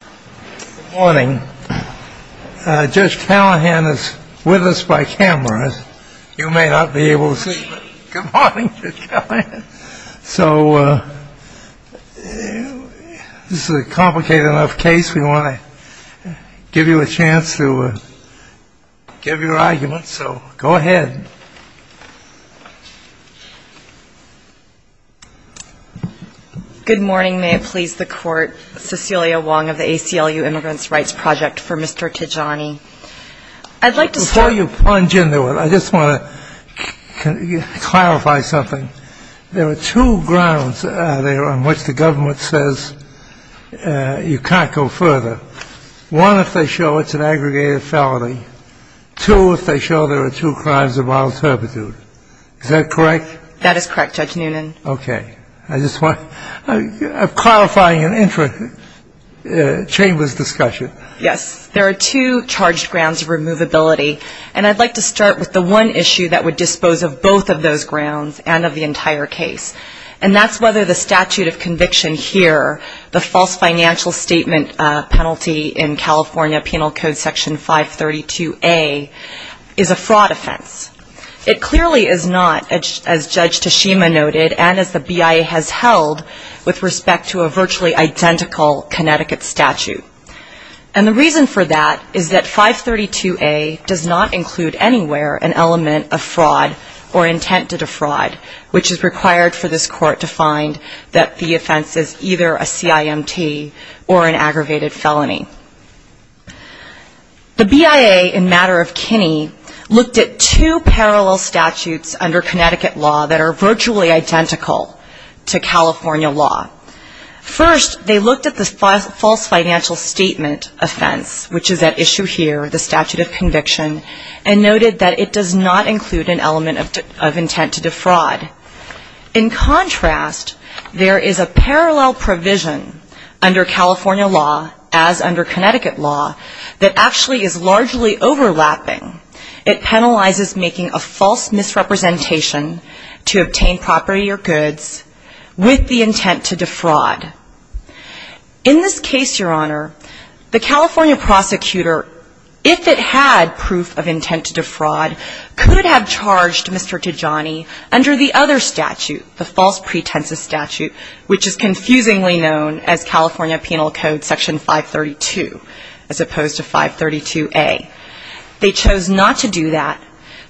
Good morning. Judge Callahan is with us by camera. You may not be able to see, but good morning, Judge Callahan. So this is a complicated enough case. We want to give you a chance to give your argument. So go ahead. Good morning. May it please the Court. Cecilia Wong of the ACLU Immigrants' Rights Project for Mr. Tijani. Before you plunge into it, I just want to clarify something. There are two grounds on which the government says you can't go further. One, if they show it's an aggregated felony. Two, if they show there are two crimes of mild servitude. Is that correct? That is correct, Judge Noonan. Okay. I just want to clarify in the interest of the Chamber's discussion. Yes. There are two charged grounds of removability, and I'd like to start with the one issue that would dispose of both of those grounds and of the entire case, and that's whether the statute of conviction here, the false financial statement penalty in California Penal Code Section 532A, is a fraud offense. It clearly is not, as Judge Tashima noted and as the BIA has held with respect to a virtually identical Connecticut statute. And the reason for that is that 532A does not include anywhere an element of fraud or intent to defraud, which is required for this court to find that the offense is either a CIMT or an aggravated felony. The BIA in matter of Kinney looked at two parallel statutes under Connecticut law that are virtually identical to California law. First, they looked at the false financial statement offense, which is at issue here, the statute of conviction, and noted that it does not include an element of intent to defraud. In contrast, there is a parallel provision under California law, as under Connecticut law, that actually is largely overlapping. It penalizes making a false misrepresentation to obtain property or goods with the intent to defraud. In this case, Your Honor, the California prosecutor, if it had proof of intent to defraud, could have charged Mr. Tijani under the other statute, the false pretenses statute, which is confusingly known as California Penal Code Section 532, as opposed to 532A. They chose not to do that.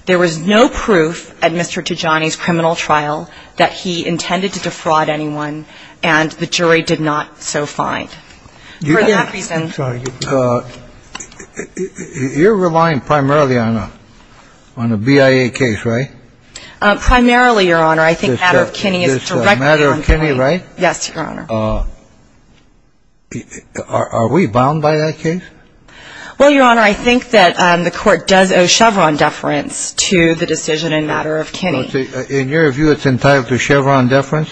There was no proof at Mr. Tijani's criminal trial that he intended to defraud anyone, and the jury did not so find. I'm sorry. You're relying primarily on a BIA case, right? Primarily, Your Honor. I think matter of Kinney is directly on the case. It's a matter of Kinney, right? Yes, Your Honor. Are we bound by that case? Well, Your Honor, I think that the Court does owe Chevron deference to the decision in matter of Kinney. In your view, it's entitled to Chevron deference?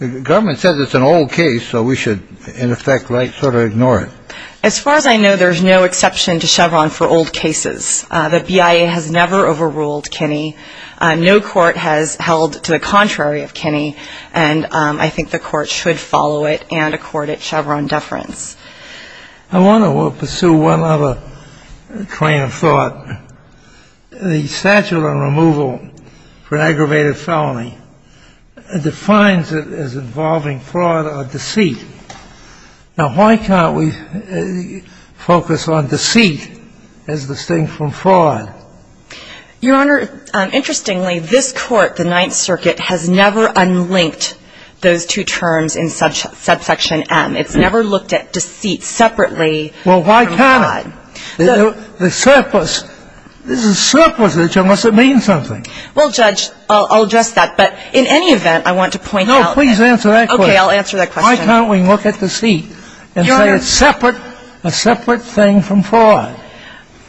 The government says it's an old case, so we should, in effect, sort of ignore it. As far as I know, there's no exception to Chevron for old cases. The BIA has never overruled Kinney. No court has held to the contrary of Kinney, and I think the Court should follow it and accord it Chevron deference. I want to pursue one other claim of thought. The statute on removal for an aggravated felony defines it as involving fraud or deceit. Now, why can't we focus on deceit as distinct from fraud? Your Honor, interestingly, this Court, the Ninth Circuit, has never unlinked those two terms in subsection M. It's never looked at deceit separately from fraud. Well, why can't it? The surplus of the term must have meant something. Well, Judge, I'll address that. But in any event, I want to point out that. No, please answer that question. Okay, I'll answer that question. Why can't we look at deceit and say it's separate, a separate thing from fraud?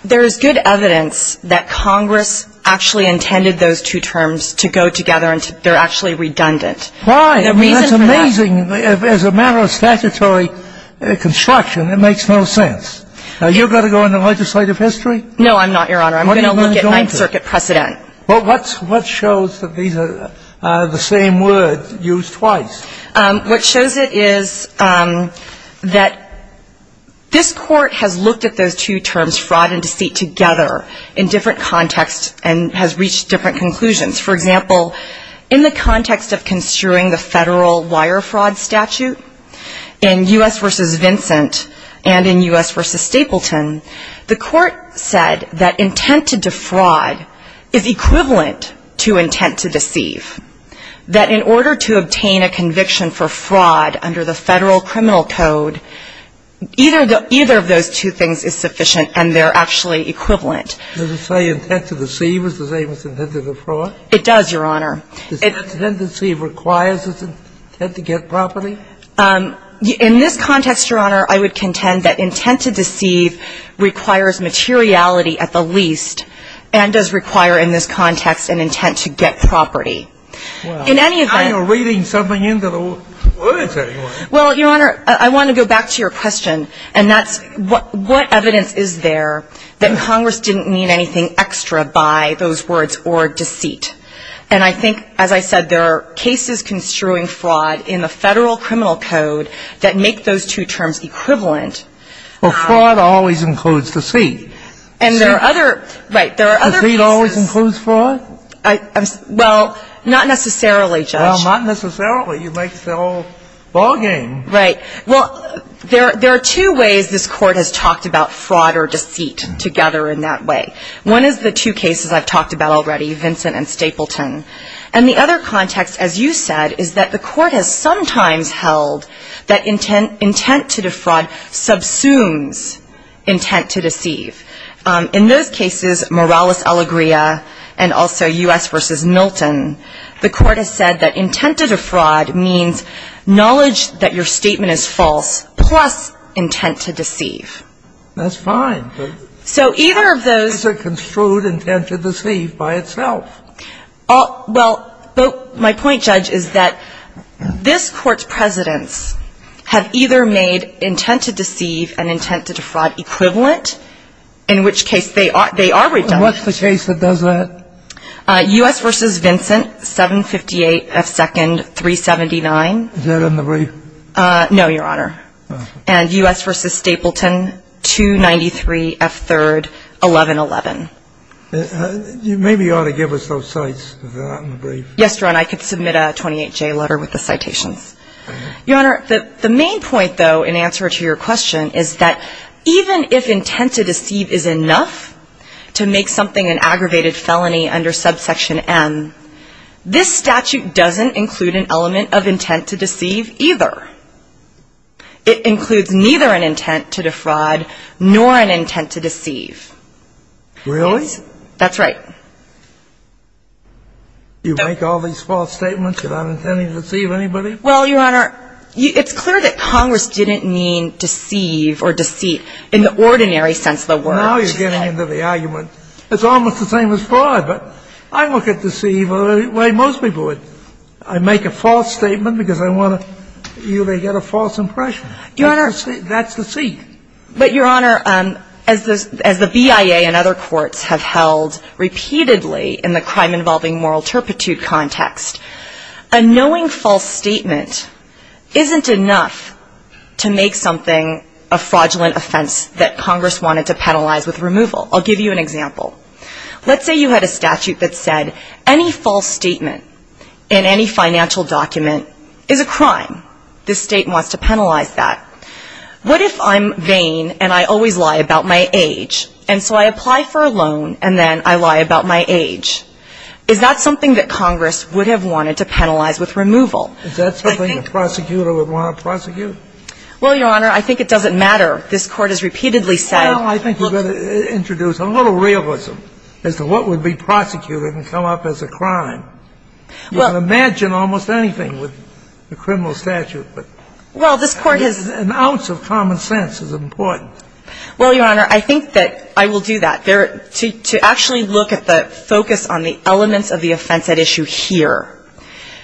There is good evidence that Congress actually intended those two terms to go together and they're actually redundant. Why? I mean, that's amazing. As a matter of statutory construction, it makes no sense. You've got to go on the legislative history? No, I'm not, Your Honor. I'm going to look at Ninth Circuit precedent. Well, what shows that these are the same words used twice? What shows it is that this Court has looked at those two terms, fraud and deceit, together in different contexts and has reached different conclusions. For example, in the context of construing the Federal wire fraud statute, in U.S. v. Stapleton, the Court said that intent to defraud is equivalent to intent to deceive, that in order to obtain a conviction for fraud under the Federal criminal code, either of those two things is sufficient and they're actually equivalent. Does it say intent to deceive is the same as intent to defraud? It does, Your Honor. Does intent to deceive require intent to get property? In this context, Your Honor, I would contend that intent to deceive requires materiality at the least and does require in this context an intent to get property. In any event — Well, now you're reading something into the words, anyway. Well, Your Honor, I want to go back to your question, and that's what evidence is there that Congress didn't mean anything extra by those words or deceit. And I think, as I said, there are cases construing fraud in the Federal criminal code that make those two terms equivalent. Well, fraud always includes deceit. And there are other — Right. There are other cases. Deceit always includes fraud? Well, not necessarily, Judge. Well, not necessarily. You make the whole ballgame. Right. Well, there are two ways this Court has talked about fraud or deceit together in that way. One is the two cases I've talked about already, Vincent and Stapleton. And the other context, as you said, is that the Court has sometimes held that intent to defraud subsumes intent to deceive. In those cases, Morales-Alegria and also U.S. v. Milton, the Court has said that intent to defraud means knowledge that your statement is false plus intent to deceive. That's fine. So either of those — Is it construed intent to deceive by itself? Well, my point, Judge, is that this Court's presidents have either made intent to deceive and intent to defraud equivalent, in which case they are redundant. What's the case that does that? U.S. v. Vincent, 758 F. Second, 379. Is that in the brief? No, Your Honor. And U.S. v. Stapleton, 293 F. Third, 1111. Maybe you ought to give us those cites. Is that in the brief? Yes, Your Honor. I could submit a 28J letter with the citations. Your Honor, the main point, though, in answer to your question is that even if intent to deceive is enough to make something an aggravated felony under subsection M, this statute doesn't include an element of intent to deceive either. It includes neither an intent to defraud nor an intent to deceive. Really? That's right. You make all these false statements without intending to deceive anybody? Well, Your Honor, it's clear that Congress didn't mean deceive or deceit in the ordinary sense of the word. Now you're getting into the argument. It's almost the same as fraud, but I look at deceive the way most people would. I make a false statement because I want you to get a false impression. Your Honor. That's deceit. But, Your Honor, as the BIA and other courts have held repeatedly in the crime-involving moral turpitude context, a knowing false statement isn't enough to make something a fraudulent offense that Congress wanted to penalize with removal. I'll give you an example. Let's say you had a statute that said any false statement in any financial document is a crime. This State wants to penalize that. What if I'm vain and I always lie about my age, and so I apply for a loan and then I lie about my age? Is that something that Congress would have wanted to penalize with removal? Is that something a prosecutor would want to prosecute? Well, Your Honor, I think it doesn't matter. This Court has repeatedly said — Well, I think you better introduce a little realism as to what would be prosecuted and come up as a crime. Well — You can imagine almost anything with the criminal statute, but — Well, this Court has — An ounce of common sense is important. Well, Your Honor, I think that I will do that. To actually look at the focus on the elements of the offense at issue here,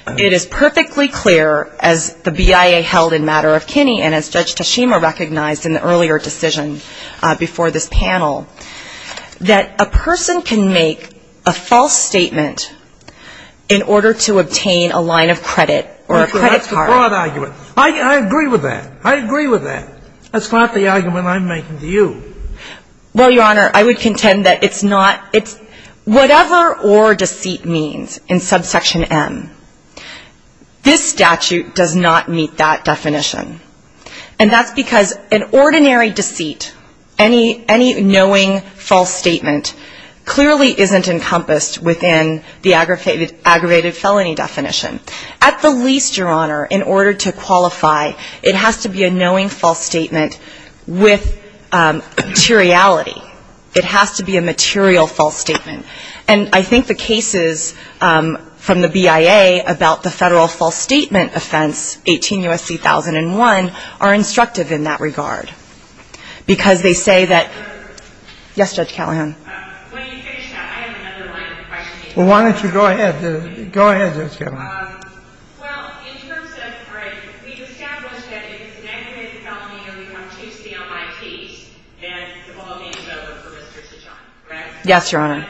it is perfectly clear, as the BIA held in Matter of Kinney and as Judge Tashima recognized in the earlier decision before this panel, that a person can make a false statement in order to obtain a line of credit or a credit card. That's a broad argument. I agree with that. I agree with that. That's not the argument I'm making to you. Well, Your Honor, I would contend that it's not — it's — whatever or deceit means in subsection M, this statute does not meet that definition. And that's because an ordinary deceit, any knowing false statement, clearly isn't encompassed within the aggravated felony definition. At the least, Your Honor, in order to qualify, it has to be a knowing false statement with materiality. It has to be a material false statement. And I think the cases from the BIA about the federal false statement offense, 18 U.S.C. 1001, are instructive in that regard because they say that — yes, Judge Callahan. When you finish that, I have another line of questioning. Well, why don't you go ahead. Go ahead, Judge Callahan. Well, in terms of — all right. We've established that if it's an aggravated felony, you're going to have to choose the MITs and all the other peristors to John, correct?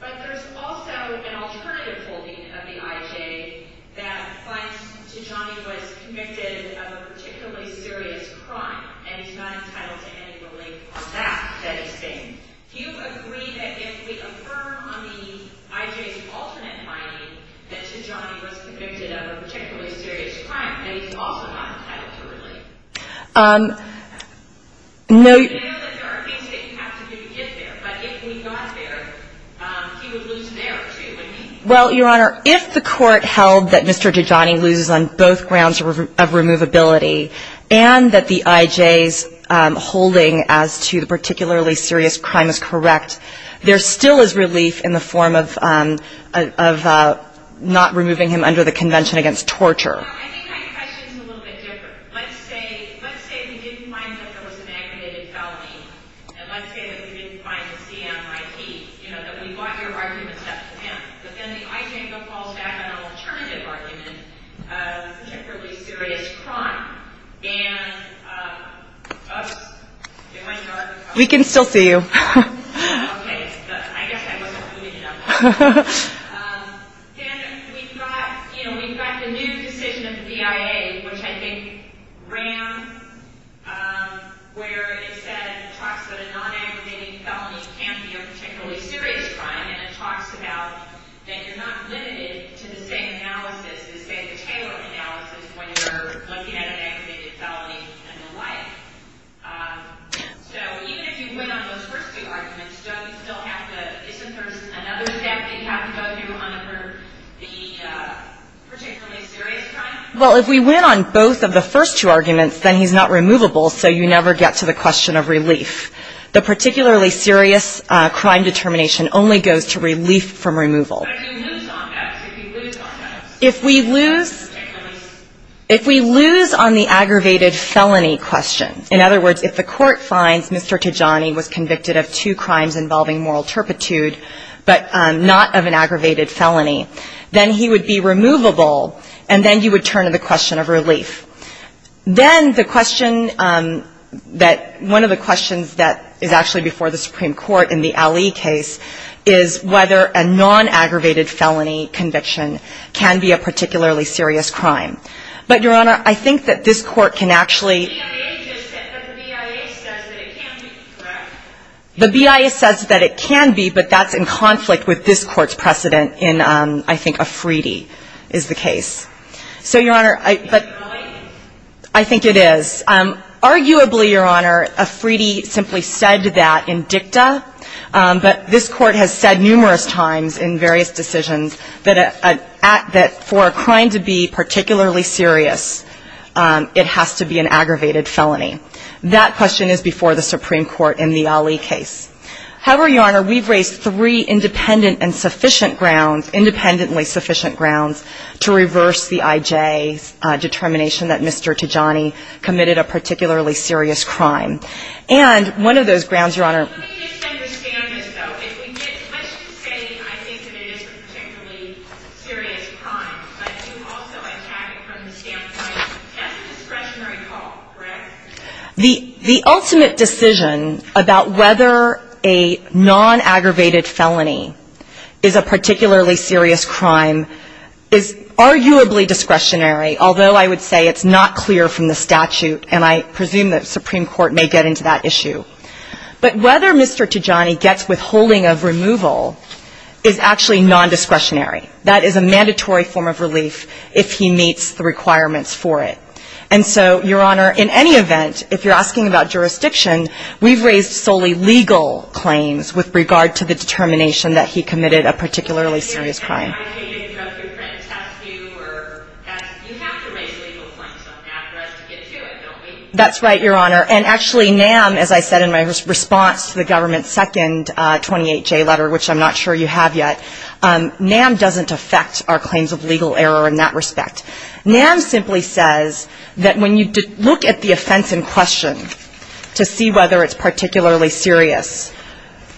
But there's also an alternative holding of the IJ that finds Tijani was convicted of a particularly serious crime, and he's not entitled to any relief from that, that he's been. Do you agree that if we affirm on the IJ's alternate finding that Tijani was convicted of a particularly serious crime, that he's also not entitled to relief? Well, Your Honor, if the court held that Mr. Tijani loses on both grounds of removability and that the IJ's holding as to the particularly serious crime is correct, there still is relief in the form of not removing him under the convention against torture. Well, I think my question is a little bit different. Let's say we didn't find that there was an aggravated felony, and let's say that we didn't find the CMIT, you know, that we brought your arguments up to him, but then the IJ falls back on an alternative argument, a particularly serious crime, and — We can still see you. Okay. I guess I wasn't moving enough. Then we've got, you know, we've got the new decision of the BIA, which I think ran where it said, it talks about a non-aggravated felony can't be a particularly serious crime, and it talks about that you're not limited to the same analysis, the same Taylor analysis, when you're looking at an aggravated felony and the like. So even if you win on those first two arguments, don't you still have to — isn't there another step that you have to go through under the particularly serious crime? Well, if we win on both of the first two arguments, then he's not removable, so you never get to the question of relief. The particularly serious crime determination only goes to relief from removal. But if you lose on those, if you lose on those? In other words, if the Court finds Mr. Tijani was convicted of two crimes involving moral turpitude, but not of an aggravated felony, then he would be removable, and then you would turn to the question of relief. Then the question that — one of the questions that is actually before the Supreme Court in the Ali case is whether a non-aggravated felony conviction can be a particularly serious crime. But, Your Honor, I think that this Court can actually — But the BIA says that it can be, correct? The BIA says that it can be, but that's in conflict with this Court's precedent in, I think, Afridi is the case. So, Your Honor, I — Is that true? I think it is. Arguably, Your Honor, Afridi simply said that in dicta, but this Court has said numerous times in various decisions that for a crime to be particularly serious, it has to be an aggravated felony. That question is before the Supreme Court in the Ali case. However, Your Honor, we've raised three independent and sufficient grounds, independently sufficient grounds, to reverse the IJ's determination that Mr. Tijani committed a particularly serious crime. And one of those grounds, Your Honor — Let me just understand this, though. If we get much to say, I think that it is a particularly serious crime, but you also attack it from the standpoint of just a discretionary call, correct? The ultimate decision about whether a non-aggravated felony is a particularly serious crime is arguably discretionary, although I would say it's not clear from the statute, and I presume the Supreme Court may get into that issue. But whether Mr. Tijani gets withholding of removal is actually nondiscretionary. That is a mandatory form of relief if he meets the requirements for it. And so, Your Honor, in any event, if you're asking about jurisdiction, we've raised solely legal claims with regard to the determination that he committed a particularly serious crime. You have to raise legal claims after us to get to it, don't we? That's right, Your Honor. And actually, NAM, as I said in my response to the government's second 28-J letter, which I'm not sure you have yet, NAM doesn't affect our claims of legal error in that respect. NAM simply says that when you look at the offense in question to see whether it's particularly serious,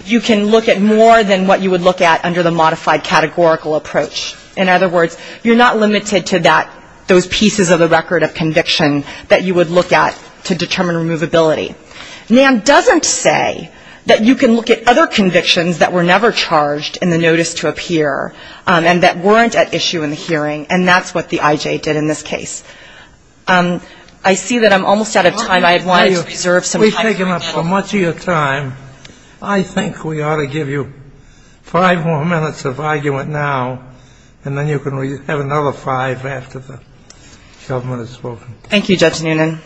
you can look at more than what you would look at under the modified categorical approach. In other words, you're not limited to those pieces of the record of conviction that you would look at to determine removability. NAM doesn't say that you can look at other convictions that were never charged in the notice to appear and that weren't at issue in the hearing, and that's what the IJ did in this case. I see that I'm almost out of time. I wanted to preserve some time for you. We've taken up so much of your time. I think we ought to give you five more minutes of argument now, and then you can have another five after the government has spoken. Thank you, Judge Noonan.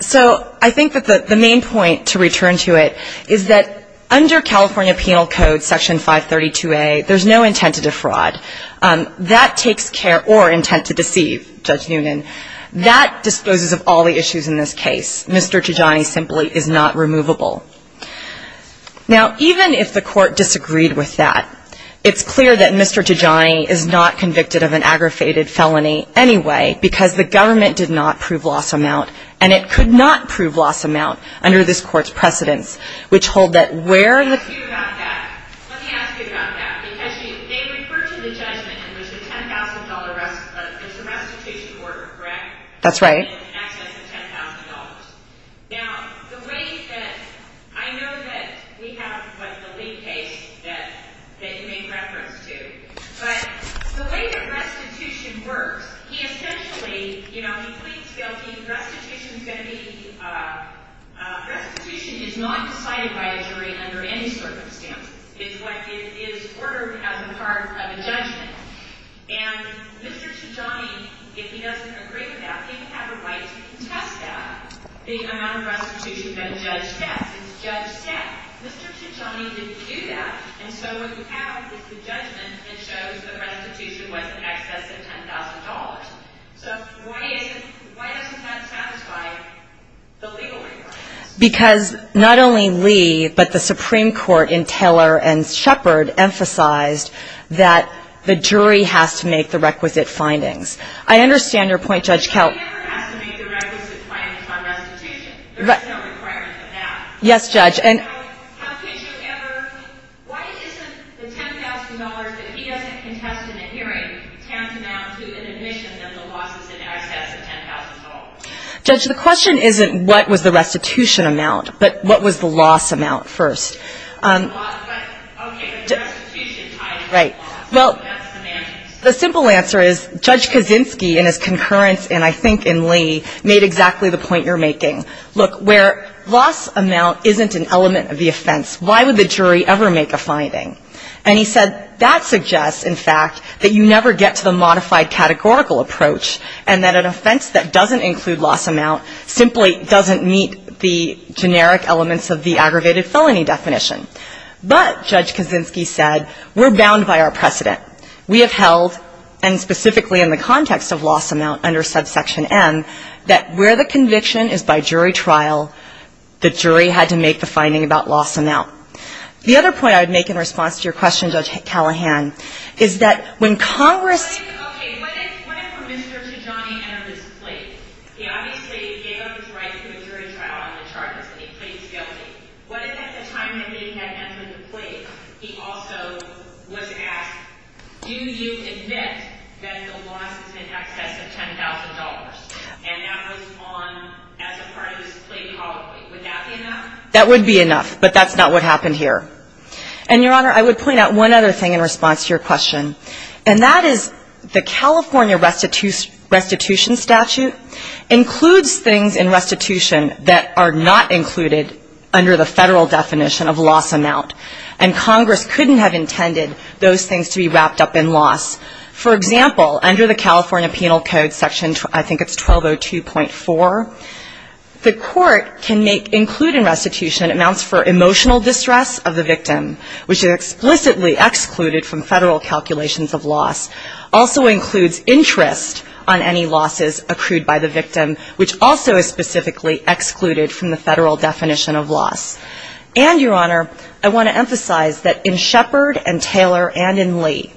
So I think that the main point to return to it is that under California Penal Code Section 532A, there's no intent to defraud. That takes care or intent to deceive, Judge Noonan. That disposes of all the issues in this case. Mr. Tijani simply is not removable. Now, even if the court disagreed with that, it's clear that Mr. Tijani is not convicted of an aggravated felony anyway because the government did not prove loss amount, and it could not prove loss amount under this court's precedence, which hold that where the ---- Let me ask you about that. Let me ask you about that. Because they refer to the judgment in which the $10,000, it's the restitution order, correct? That's right. Access to $10,000. Now, the way that I know that we have what the lead case that you made reference to, but the way that restitution works, he essentially, you know, he pleads guilty. Restitution is going to be ---- Restitution is not decided by a jury under any circumstance. It's what is ordered as a part of a judgment. And Mr. Tijani, if he doesn't agree with that, he would have a right to contest that, the amount of restitution that a judge sets. It's judge set. Mr. Tijani didn't do that, and so what you have is the judgment that shows the restitution was in excess of $10,000. So why is it, why doesn't that satisfy the legal requirements? Because not only Lee, but the Supreme Court in Taylor and Shepard emphasized that the jury has to make the requisite findings. I understand your point, Judge Kelt. He never has to make the requisite findings on restitution. There's no requirement for that. Yes, Judge. And how could you ever ---- Why isn't the $10,000 that he doesn't contest in the hearing tantamount to an admission of the losses in excess of $10,000? Judge, the question isn't what was the restitution amount, but what was the loss amount first. Okay. Right. Well, the simple answer is Judge Kaczynski in his concurrence, and I think in Lee, made exactly the point you're making. Look, where loss amount isn't an element of the offense, why would the jury ever make a finding? And he said that suggests, in fact, that you never get to the modified categorical approach and that an offense that doesn't include loss amount simply doesn't meet the generic elements of the aggravated felony definition. But, Judge Kaczynski said, we're bound by our precedent. We have held, and specifically in the context of loss amount under subsection M, that where the conviction is by jury trial, the jury had to make the finding about loss amount. The other point I would make in response to your question, Judge Callahan, is that when Congress ---- He obviously gave up his right to a jury trial on the charges that he pleaded guilty. What if at the time that he had entered the plea, he also was asked, do you admit that the loss is in excess of $10,000, and that was on as a part of his plea colloquy? Would that be enough? That would be enough, but that's not what happened here. And, Your Honor, I would point out one other thing in response to your question, and that is the California restitution statute includes things in restitution that are not included under the federal definition of loss amount. And Congress couldn't have intended those things to be wrapped up in loss. For example, under the California Penal Code section, I think it's 1202.4, the court can include in restitution amounts for emotional distress of the victim, which is explicitly excluded from federal calculations of loss, also includes interest on any losses accrued by the victim, which also is specifically excluded from the federal definition of loss. And, Your Honor, I want to emphasize that in Shepard and Taylor and in Lee,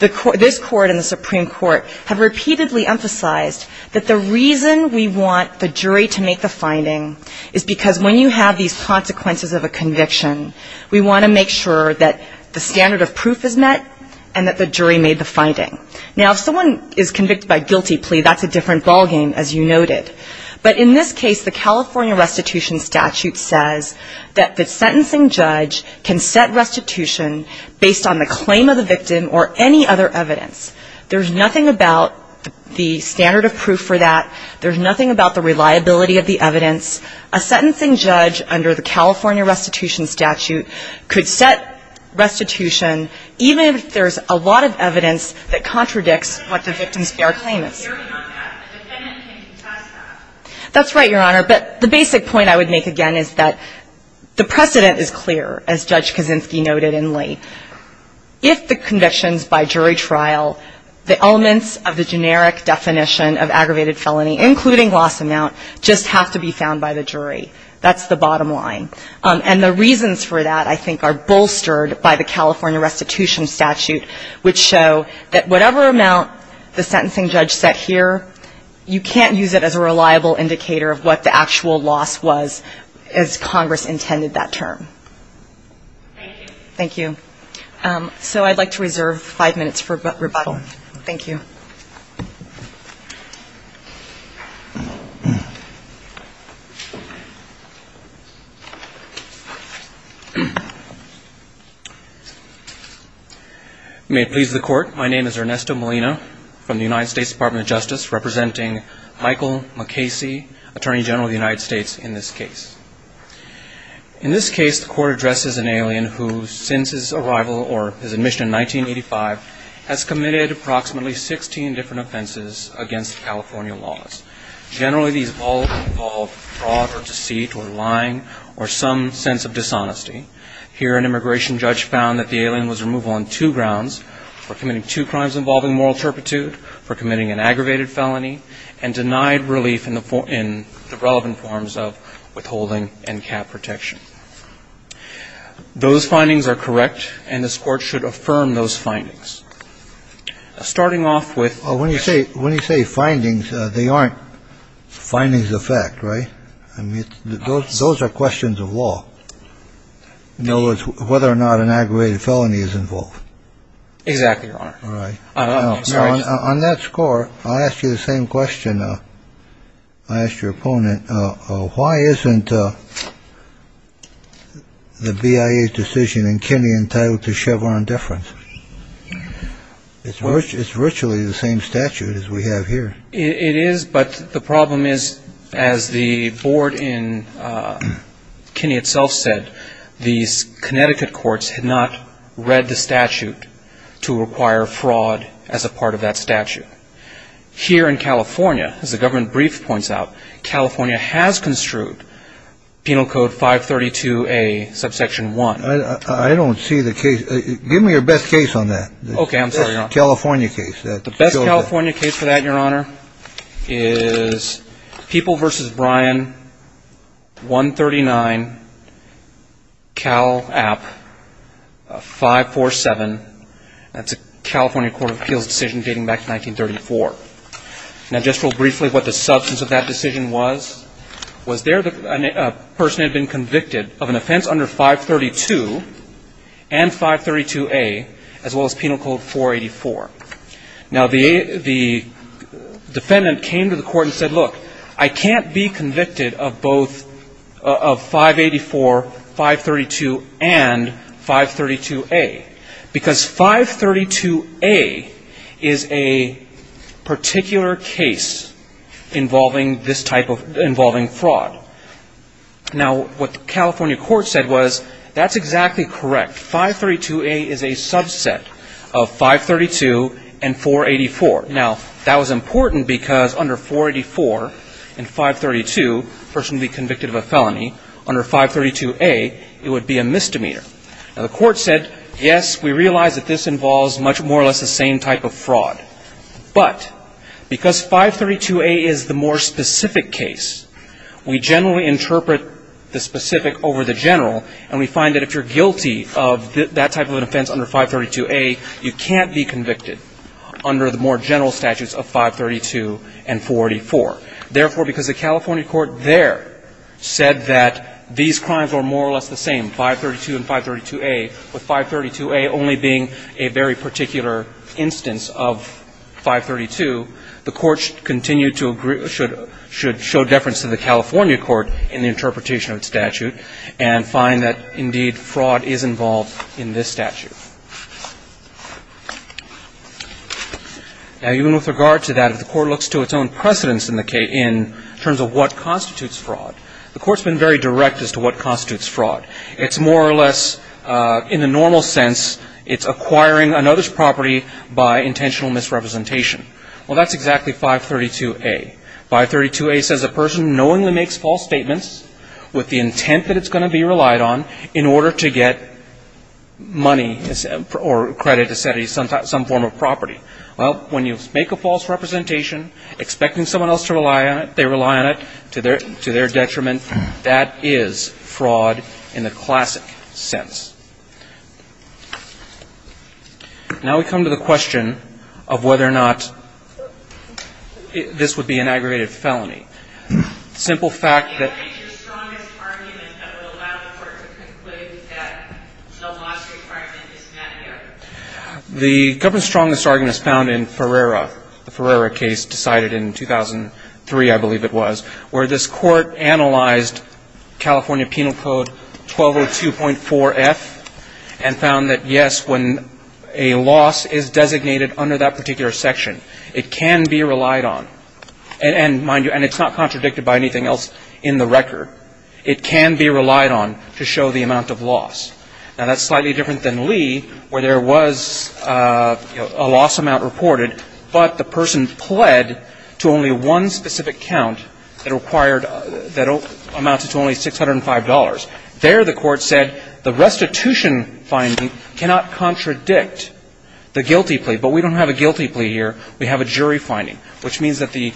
this Court and the Supreme Court have repeatedly emphasized that the reason we want the jury to make the finding is because when you have these consequences of a conviction, we want to make sure that the standard of proof is met and that the jury made the finding. Now, if someone is convicted by guilty plea, that's a different ballgame, as you noted. But in this case, the California restitution statute says that the sentencing judge can set restitution based on the claim of the victim or any other evidence. There's nothing about the standard of proof for that. There's nothing about the reliability of the evidence. A sentencing judge under the California restitution statute could set restitution even if there's a lot of evidence that contradicts what the victim's fair claim is. That's right, Your Honor, but the basic point I would make again is that the precedent is clear, as Judge Kaczynski noted in Lee. If the convictions by jury trial, the elements of the generic definition of aggravated felony, including loss amount, just have to be found by the jury. That's the bottom line. And the reasons for that, I think, are bolstered by the California restitution statute, which show that whatever amount the sentencing judge set here, you can't use it as a reliable indicator of what the actual loss was as Congress intended that term. Thank you. So I'd like to reserve five minutes for rebuttal. Thank you. May it please the court. My name is Ernesto Molina from the United States Department of Justice, representing Michael MacCasey, Attorney General of the United States in this case. In this case, the court addresses an alien who, since his arrival or his admission in 1985, has committed approximately 16 different offenses against California laws. Generally, these all involve fraud or deceit or lying or some sense of dishonesty. Here an immigration judge found that the alien was removal on two grounds, for committing two crimes involving moral turpitude, for committing an aggravated felony, and denied relief in the relevant forms of withholding and cap protection. Those findings are correct, and this court should affirm those findings. Starting off with. When you say findings, they aren't findings of fact, right? Those are questions of law. Whether or not an aggravated felony is involved. Exactly, Your Honor. On that score, I'll ask you the same question I asked your opponent. Why isn't the BIA's decision in Kennedy entitled to Chevron difference? It's virtually the same statute as we have here. It is, but the problem is, as the board in Kennedy itself said, these Connecticut courts had not read the statute to require fraud as a part of that statute. Here in California, as the government brief points out, California has construed Penal Code 532A, Subsection 1. I don't see the case. Give me your best case on that. Okay, I'm sorry, Your Honor. The best California case for that, Your Honor, is People v. Bryan, 139, Cal App, 547. That's a California Court of Appeals decision dating back to 1934. Now, just real briefly what the substance of that decision was. Was there a person who had been convicted of an offense under 532 and 532A, as well as Penal Code 484? Now, the defendant came to the court and said, look, I can't be convicted of both, of 584, 532, and 532A, because 532A is a particular case involving this type of, involving fraud. Now, what the California court said was, that's exactly correct. 532A is a subset of 532 and 484. Now, that was important because under 484 and 532, a person would be convicted of a felony. Under 532A, it would be a misdemeanor. But because 532A is the more specific case, we generally interpret the specific over the general. And we find that if you're guilty of that type of an offense under 532A, you can't be convicted under the more general statutes of 532 and 484. Therefore, because the California court there said that these crimes were more or less the same, 532 and 532A, with 532A only being a very particular instance of 532, the court should continue to agree, should show deference to the California court in the interpretation of its statute, and find that indeed fraud is involved in this statute. Now, even with regard to that, if the court looks to its own precedence in terms of what constitutes fraud, the court's been very direct as to what constitutes fraud. It's more or less, in the normal sense, it's acquiring another's property by intentional misrepresentation. Well, that's exactly 532A. 532A says a person knowingly makes false statements with the intent that it's going to be relied on in order to get money or credit or some form of property. Well, when you make a false representation, expecting someone else to rely on it, they rely on it to their detriment. That is fraud in the classic sense. Now we come to the question of whether or not this would be an aggravated felony. The simple fact that... The government's strongest argument is found in Ferrera. The Ferrera case decided in 2003, I believe it was, where this court analyzed California Penal Code 1202.4F and found that, yes, when a loss is designated under that particular section, it can be relied on. And mind you, it's not contradicted by anything else in the record. It can be relied on to show the amount of loss. Now, that's slightly different than Lee, where there was a loss amount reported, but the person pled to only one specific count that required that amounted to only $605. There the court said the restitution finding cannot contradict the guilty plea. But we don't have a guilty plea here. We have a jury finding, which means that the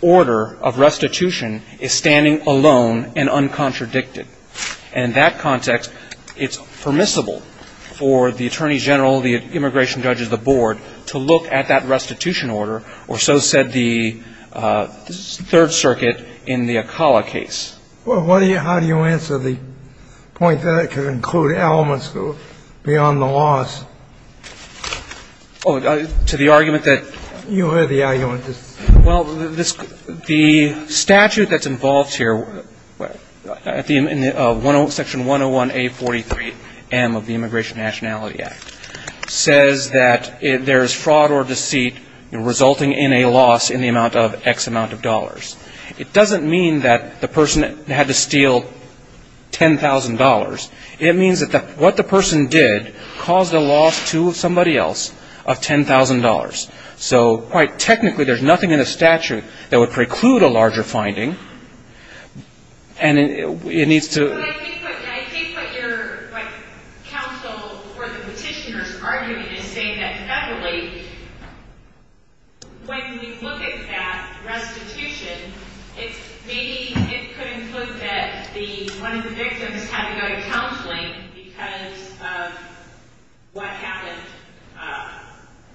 order of restitution is standing alone and uncontradicted. And in that context, it's permissible for the attorney general, the immigration judge of the board, to look at that restitution order, or so said the Third Circuit in the Acala case. Well, how do you answer the point that it could include elements beyond the loss? Oh, to the argument that... Well, the statute that's involved here, Section 101A43M of the Immigration Nationality Act, says that there is fraud or deceit resulting in a loss in the amount of X amount of dollars. It doesn't mean that the person had to steal $10,000. It means that what the person did caused a loss to somebody else of $10,000. So quite technically, there's nothing in the statute that would preclude a larger finding. And it needs to... But I think what your counsel or the petitioner's argument is saying that federally, when you look at that restitution, maybe it could include that one of the victims had to go to counseling because of what happened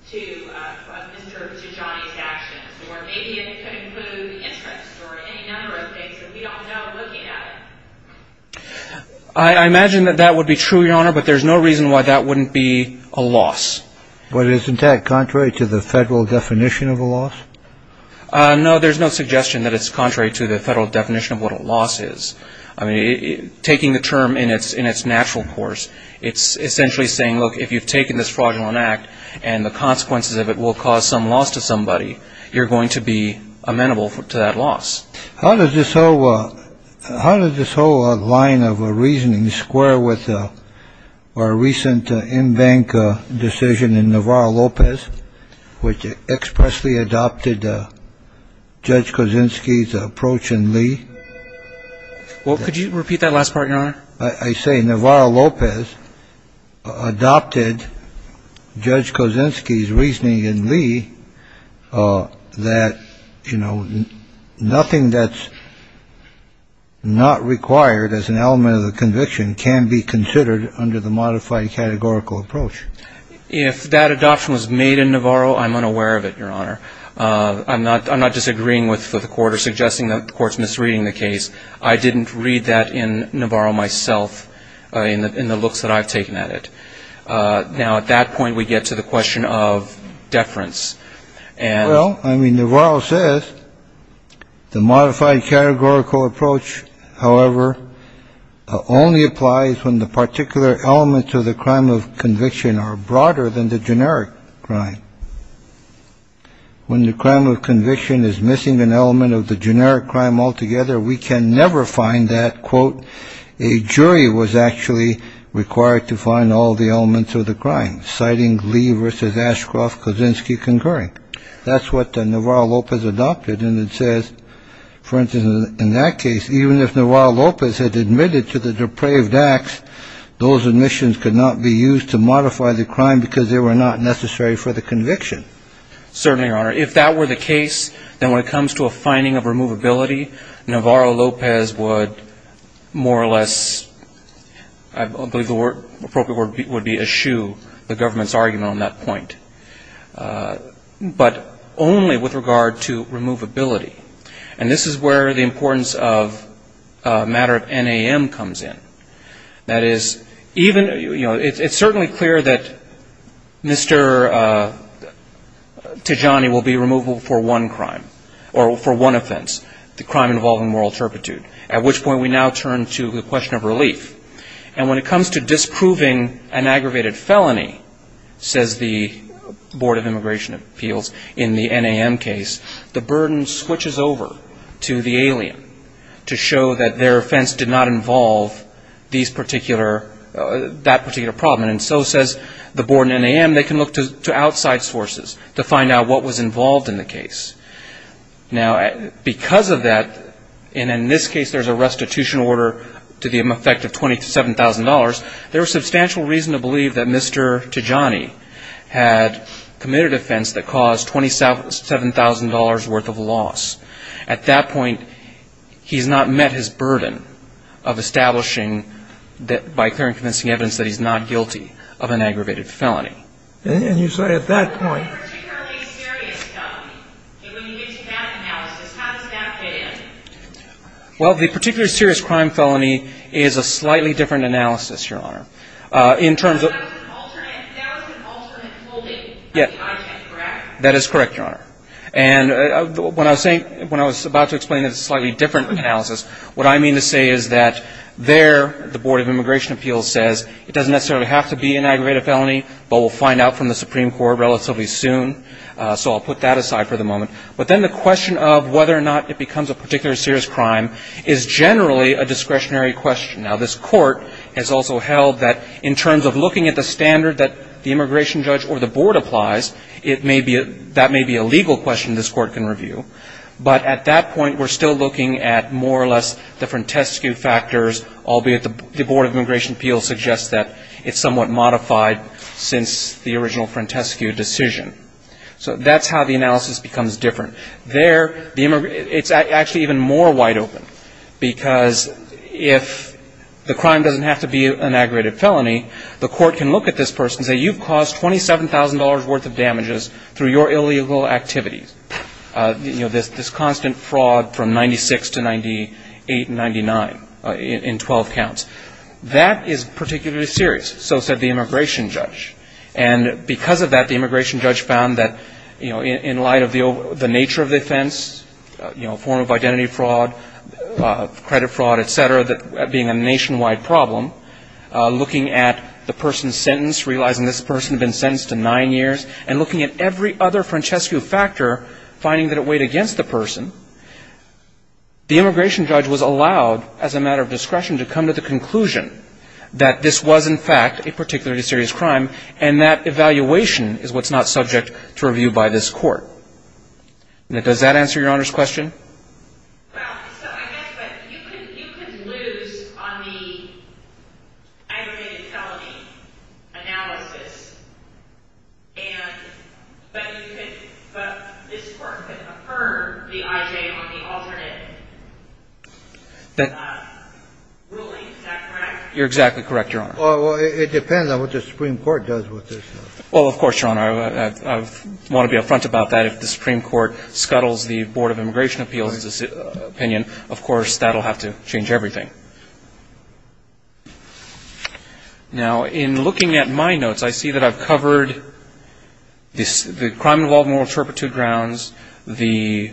to Mr. Tijani's actions. Or maybe it could include interest or any number of things that we don't know looking at it. I imagine that that would be true, Your Honor, but there's no reason why that wouldn't be a loss. But isn't that contrary to the federal definition of a loss? No, there's no suggestion that it's contrary to the federal definition of what a loss is. I mean, taking the term in its natural course, it's essentially saying, look, if you've taken this fraudulent act and the consequences of it will cause some loss to somebody, you're going to be amenable to that loss. How does this whole line of reasoning square with our recent in-bank decision in Navarro-Lopez, which expressly adopted Judge Kosinski's approach in Lee? Well, could you repeat that last part, Your Honor? I say Navarro-Lopez adopted Judge Kosinski's reasoning in Lee that, you know, nothing that's not required as an element of the conviction can be considered under the modified categorical approach. If that adoption was made in Navarro, I'm unaware of it, Your Honor. I'm not disagreeing with the court or suggesting that the court's misreading the case. I didn't read that in Navarro myself in the looks that I've taken at it. Now, at that point, we get to the question of deference. Well, I mean, Navarro says the modified categorical approach, however, only applies when the particular elements of the crime of conviction are broader than the generic crime. When the crime of conviction is missing an element of the generic crime altogether, we can never find that, quote, a jury was actually required to find all the elements of the crime, citing Lee versus Ashcroft-Kosinski concurring. That's what Navarro-Lopez adopted, and it says, for instance, in that case, even if Navarro-Lopez had admitted to the depraved acts, those admissions could not be used to modify the crime because they were not necessary for the conviction. Certainly, Your Honor. If that were the case, then when it comes to a finding of removability, Navarro-Lopez would more or less, I believe the appropriate word would be eschew the government's argument on that point. But only with regard to removability. And this is where the importance of matter of NAM comes in. That is, even, you know, it's certainly clear that Mr. Tajani will be removable for one crime, or for one offense, the crime involving moral turpitude, at which point we now turn to the question of relief. And when it comes to disproving an aggravated felony, says the Board of Immigration Appeals in the NAM case, the burden switches over to the alien to show that their offense did not involve a crime involving moral turpitude. And so, says the Board in the NAM, they can look to outside sources to find out what was involved in the case. Now, because of that, and in this case there's a restitution order to the effect of $27,000, there is substantial reason to believe that Mr. Tajani had committed an offense that caused $27,000 worth of loss. At that point, he's not met his burden of establishing by clear and convincing evidence that he's not guilty of an aggravated felony. And you say at that point... Well, the particularly serious crime felony is a slightly different analysis, Your Honor. In terms of... That is correct, Your Honor. And when I was saying, when I was about to explain a slightly different analysis, what I mean to say is that there the Board of Immigration Appeals says it doesn't necessarily have to be an aggravated felony, but we'll find out from the Supreme Court relatively soon. So I'll put that aside for the moment. But then the question of whether or not it becomes a particular serious crime is generally a discretionary question. Now, this Court has also held that in terms of looking at the standard that the immigration judge or the Board applies, that may be a legal question this Court can review. But at that point, we're still looking at more or less the Frantescu factors, albeit the Board of Immigration Appeals suggests that it's somewhat modified since the original Frantescu decision. So that's how the analysis becomes different. There, it's actually even more wide open. Because if the crime doesn't have to be an aggravated felony, the Court can look at this person and say, you've caused $27,000 worth of damages through your illegal activities. You know, this constant fraud from 96 to 98 and 99 in 12 counts. That is particularly serious, so said the immigration judge. And because of that, the immigration judge found that, you know, in light of the nature of the offense, you know, form of identity fraud, credit fraud, et cetera, that being a nationwide problem, looking at the person's sentence, realizing this person had been sentenced to nine years, and looking at every other Frantescu factor, finding that it weighed against the person, the immigration judge was allowed, as a matter of discretion, to come to the conclusion that this was, in fact, a particularly serious crime. And that evaluation is what's not subject to review by this Court. Now, does that answer Your Honor's question? Well, so I guess, but you could lose on the aggravated felony analysis, but this Court could affirm the I.J. on the alternate ruling. Is that correct? You're exactly correct, Your Honor. Well, it depends on what the Supreme Court does with this. Well, of course, Your Honor, I want to be up front about that. If the Supreme Court scuttles the Board of Immigration Appeals' opinion, of course, that will have to change everything. Now, in looking at my notes, I see that I've covered the crime-involved moral turpitude grounds, the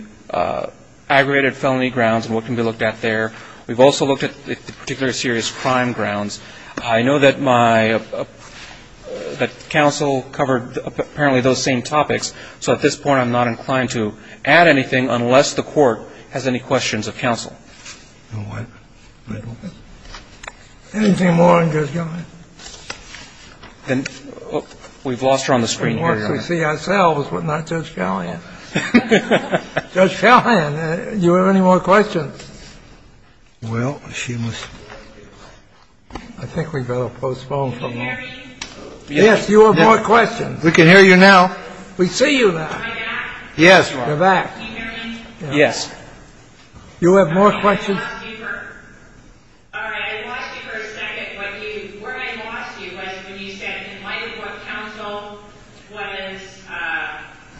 aggravated felony grounds, and what can be looked at there. We've also looked at the particularly serious crime grounds. I know that counsel covered apparently those same topics, so at this point, I'm not inclined to add anything unless the Court has any questions of counsel. Anything more on Judge Gallian? We've lost her on the screen here, Your Honor. We see ourselves, but not Judge Gallian. Judge Gallian, do you have any more questions? Well, she must be. I think we'd better postpone for a moment. Yes, you have more questions. We can hear you now. We see you now. Am I back? Yes, you're back. Can you hear me? Yes. You have more questions. I lost you for a second. What I lost you was when you said in light of what counsel was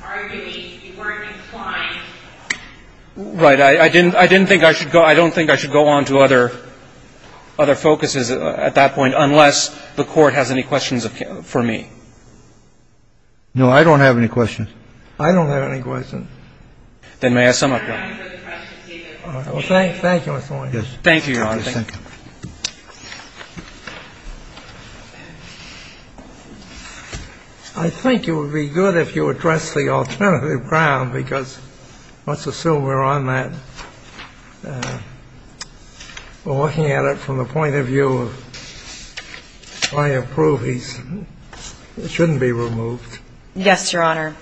arguing, you weren't inclined. Right. I didn't think I should go. I don't think I should go on to other focuses at that point unless the Court has any questions for me. No, I don't have any questions. I don't have any questions. Then may I sum up, Your Honor? Thank you, Mr. Moynihan. Thank you, Your Honor. I think it would be good if you addressed the alternative ground because let's assume we're on that. We're looking at it from the point of view of I approve. He shouldn't be removed. Yes, Your Honor.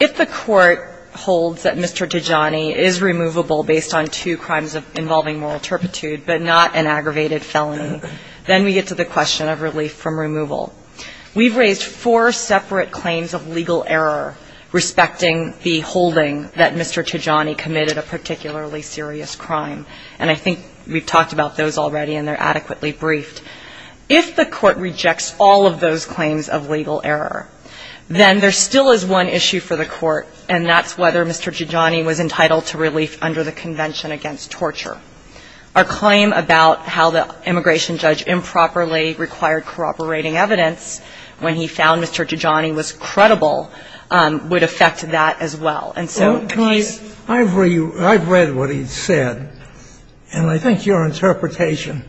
If the Court holds that Mr. Tijani is removable based on two crimes involving moral turpitude but not an aggravated felony, then we get to the question of relief from removal. We've raised four separate claims of legal error respecting the holding that Mr. Tijani committed a particularly serious crime, and I think we've talked about those already and they're adequately briefed. If the Court rejects all of those claims of legal error, then there still is one issue for the Court, and that's whether Mr. Tijani was entitled to relief under the Convention Against Torture. Our claim about how the immigration judge improperly required corroborating evidence when he found Mr. Tijani was credible would affect that as well. And so if he's ---- I've read what he said, and I think your interpretation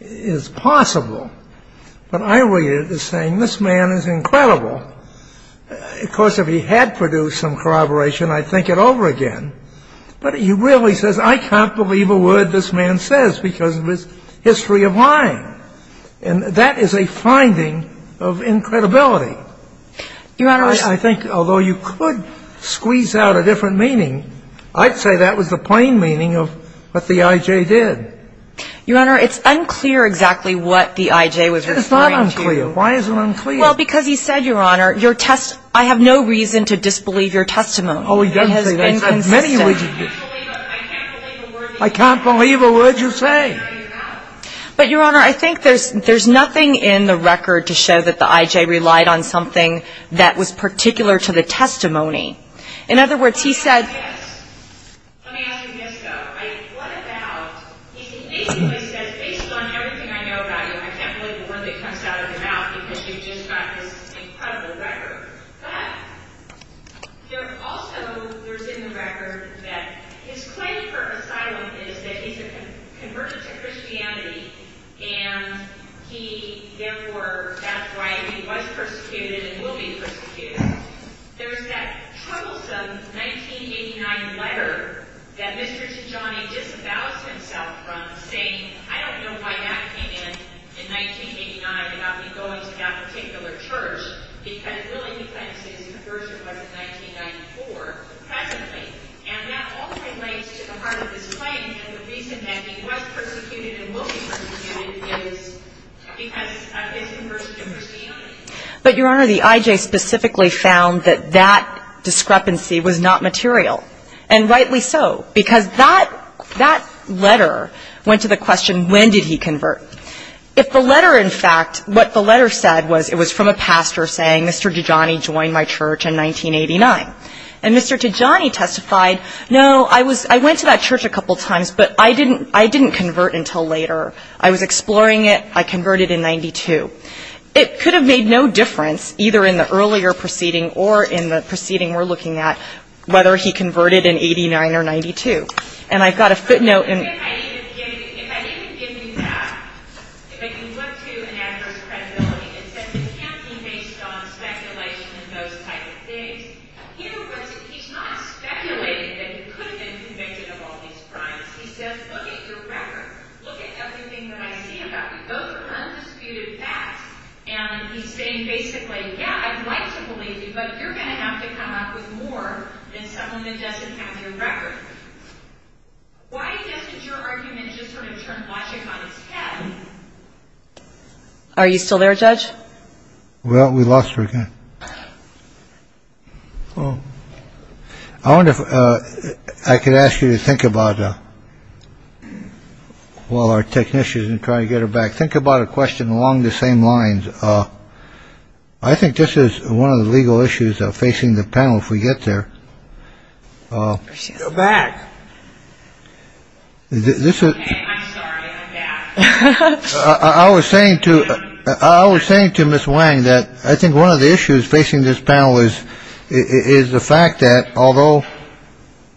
is possible, but I read it as saying this man is incredible. Of course, if he had produced some corroboration, I'd think it over again. But he really says I can't believe a word this man says because of his history of lying, and that is a finding of incredibility. Your Honor, I think although you could squeeze out a different meaning, I'd say that was the plain meaning of what the I.J. did. Your Honor, it's unclear exactly what the I.J. was referring to. It's not unclear. Why is it unclear? Well, because he said, Your Honor, I have no reason to disbelieve your testimony. Oh, he doesn't say that. He says many reasons. I can't believe a word you say. But, Your Honor, I think there's nothing in the record to show that the I.J. relied on something that was particular to the testimony. In other words, he said ---- Let me ask you this, though. What about, he basically says, based on everything I know about you, I can't believe a word that comes out of your mouth because you just got this incredible record. But, there also, there's in the record that his claim for asylum is that he's a convert to Christianity and he, therefore, that's why he was persecuted and will be persecuted. There's that troublesome 1989 letter that Mr. Tijani disavows himself from saying, I don't know why that came in, in 1989, about me going to that particular church, because, really, he claims that his conversion was in 1994, presently. And that all relates to the heart of his claim and the reason that he was persecuted and will be persecuted is because of his conversion to Christianity. But, Your Honor, the IJ specifically found that that discrepancy was not material, and rightly so, because that letter went to the question, when did he convert? If the letter, in fact, what the letter said was it was from a pastor saying, Mr. Tijani joined my church in 1989. And Mr. Tijani testified, no, I went to that church a couple times, but I didn't convert until later. I was exploring it. I converted in 92. It could have made no difference, either in the earlier proceeding or in the proceeding we're looking at, whether he converted in 89 or 92. And I've got a footnote. If I didn't give you that, but you went to an adverse credibility and said, it can't be based on speculation and those type of things. Here, he's not speculating that he could have been convicted of all these crimes. He says, look at your record. Look at everything that I see about you. Those are undisputed facts. And he's saying, basically, yeah, I'd like to believe you, but you're going to have to come up with more than someone that doesn't have your record. Why isn't your argument just. Are you still there, Judge? Well, we lost her again. I wonder if I could ask you to think about. Well, our technicians and try to get her back. Think about a question along the same lines. I think this is one of the legal issues facing the panel. If we get there. This is. I was saying to I was saying to Miss Wang that I think one of the issues facing this panel is, is the fact that although,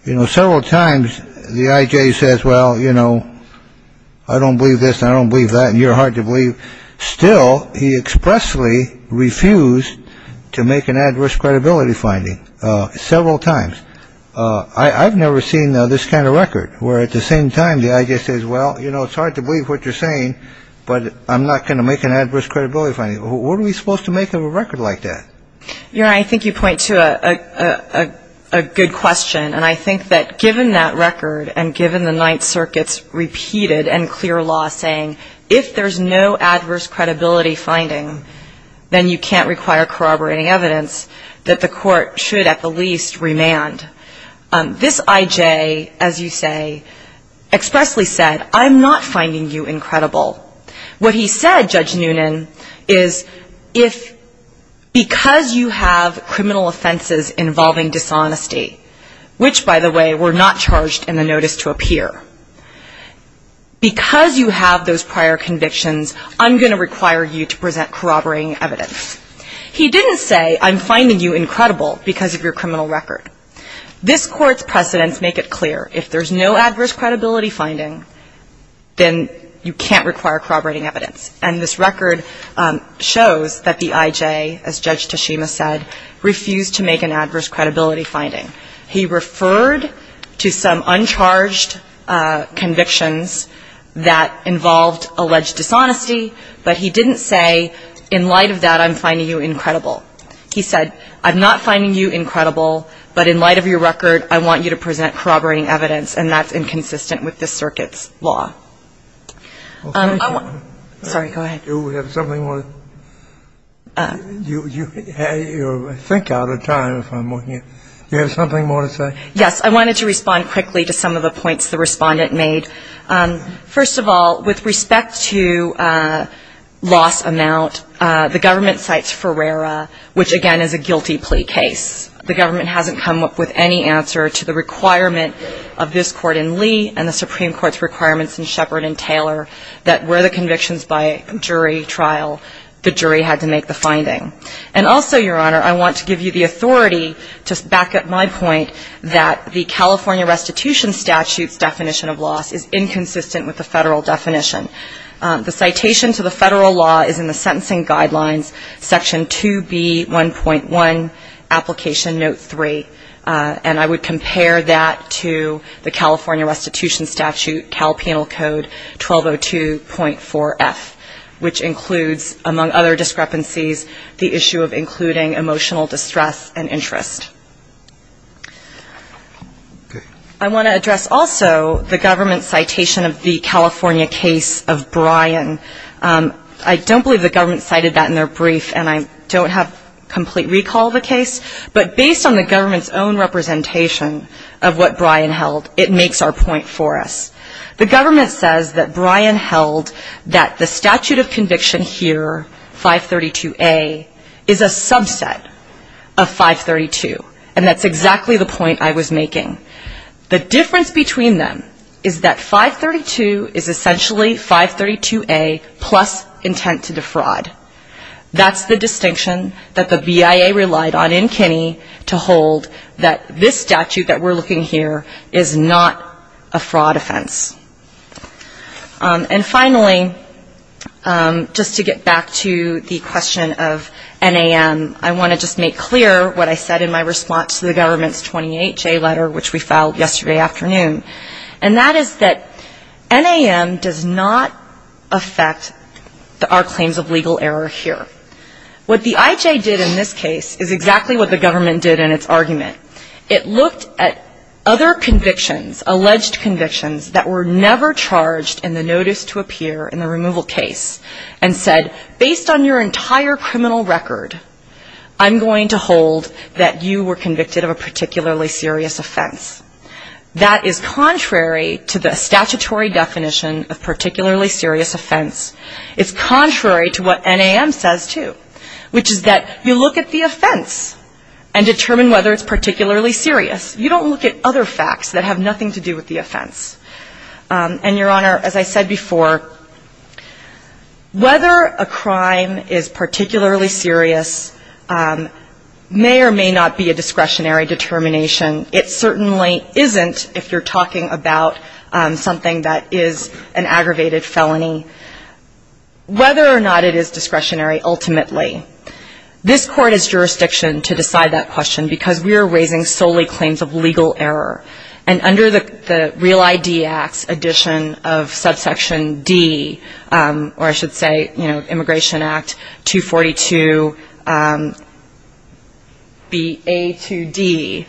you know, several times the IJ says, well, you know, I don't believe this. I don't believe that. You're hard to believe. Still, he expressly refused to make an adverse credibility finding several times. I've never seen this kind of record where at the same time the IJ says, well, you know, it's hard to believe what you're saying, but I'm not going to make an adverse credibility finding. What are we supposed to make of a record like that? Yeah, I think you point to a good question. And I think that given that record and given the Ninth Circuit's repeated and clear law saying, if there's no adverse credibility finding, then you can't require corroborating evidence that the court should at the least remand. This IJ, as you say, expressly said, I'm not finding you incredible. What he said, Judge Noonan, is if because you have criminal offenses involving dishonesty, which, by the way, were not charged in the notice to appear, because you have those prior convictions, I'm going to require you to present corroborating evidence. He didn't say, I'm finding you incredible because of your criminal record. This Court's precedents make it clear. If there's no adverse credibility finding, then you can't require corroborating evidence. And this record shows that the IJ, as Judge Tashima said, refused to make an adverse credibility finding. He referred to some uncharged convictions that involved alleged dishonesty, but he didn't say, in light of that, I'm finding you incredible. He said, I'm not finding you incredible, but in light of your record, I want you to present corroborating evidence, and that's inconsistent with this Circuit's law. Okay. Sorry, go ahead. Do we have something more? You're, I think, out of time if I'm looking at it. Do you have something more to say? Yes. I wanted to respond quickly to some of the points the Respondent made. First of all, with respect to loss amount, the government cites Ferreira, which, again, is a guilty plea case. And the Supreme Court's requirements in Shepard and Taylor that were the convictions by jury trial, the jury had to make the finding. And also, Your Honor, I want to give you the authority to back up my point that the California Restitution Statute's definition of loss is inconsistent with the Federal definition. The citation to the Federal law is in the Sentencing Guidelines, Section 2B, 1.1, Application Note 3. And I would compare that to the California Restitution Statute, Cal Penal Code 1202.4F, which includes, among other discrepancies, the issue of including emotional distress and interest. Okay. I want to address also the government's citation of the California case of Bryan. I don't believe the government cited that in their brief, and I don't have complete recall of the case. But based on the government's own representation of what Bryan held, it makes our point for us. The government says that Bryan held that the statute of conviction here, 532A, is a subset of 532. And that's exactly the point I was making. The difference between them is that 532 is essentially 532A plus intent to defraud. That's the distinction that the BIA relied on in Kinney to hold that this statute that we're looking here is not a fraud offense. And finally, just to get back to the question of NAM, I want to just make clear what I said in my response to the government's 28J letter, which we filed yesterday afternoon. And that is that NAM does not affect our claims of legal error here. What the IJ did in this case is exactly what the government did in its argument. It looked at other convictions, alleged convictions, that were never charged in the notice to appear in the removal case and said, based on your entire criminal record, I'm going to hold that you were convicted of a particularly serious offense. That is contrary to the statutory definition of particularly serious offense. It's contrary to what NAM says, too, which is that you look at the offense and determine whether it's particularly serious. You don't look at other facts that have nothing to do with the offense. And, Your Honor, as I said before, whether a crime is particularly serious may or may not be a discretionary determination. It certainly isn't if you're talking about something that is an aggravated felony, whether or not it is discretionary, ultimately. This Court has jurisdiction to decide that question, because we are raising solely claims of legal error. And under the Real ID Act's addition of subsection D, or I should say, you know, Immigration Act 242BA2D,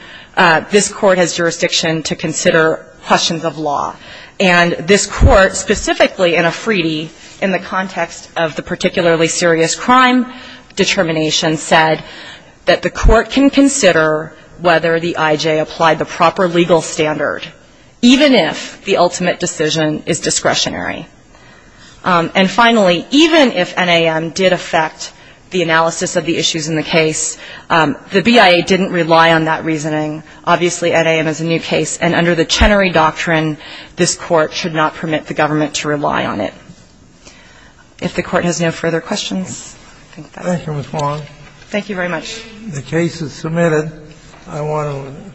this Court has jurisdiction to consider questions of law. And this Court, specifically in a Freedie, in the context of the particularly serious crime determination, said that the Court can consider whether the I.J. applied the proper legal standard, even if the ultimate decision is discretionary. And finally, even if NAM did affect the analysis of the issues in the case, the BIA didn't rely on that reasoning. Obviously, NAM is a new case, and under the Chenery Doctrine, this Court should not permit the government to rely on it. If the Court has no further questions, I think that's it. Thank you, Ms. Long. Thank you very much. The case is submitted. I want to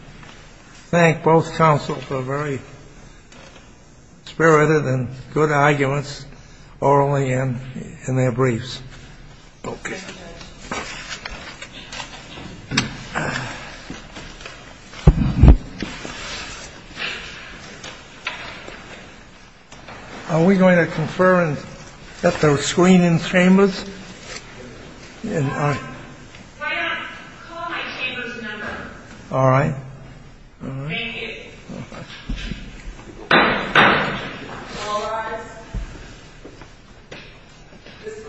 thank both counsels for very spirited and good arguments, orally and in their briefs. Thank you. Are we going to confer and set the screen in Chambers? Why not? Call my Chambers number. All right. Thank you. All rise. This Court, this session is adjourned.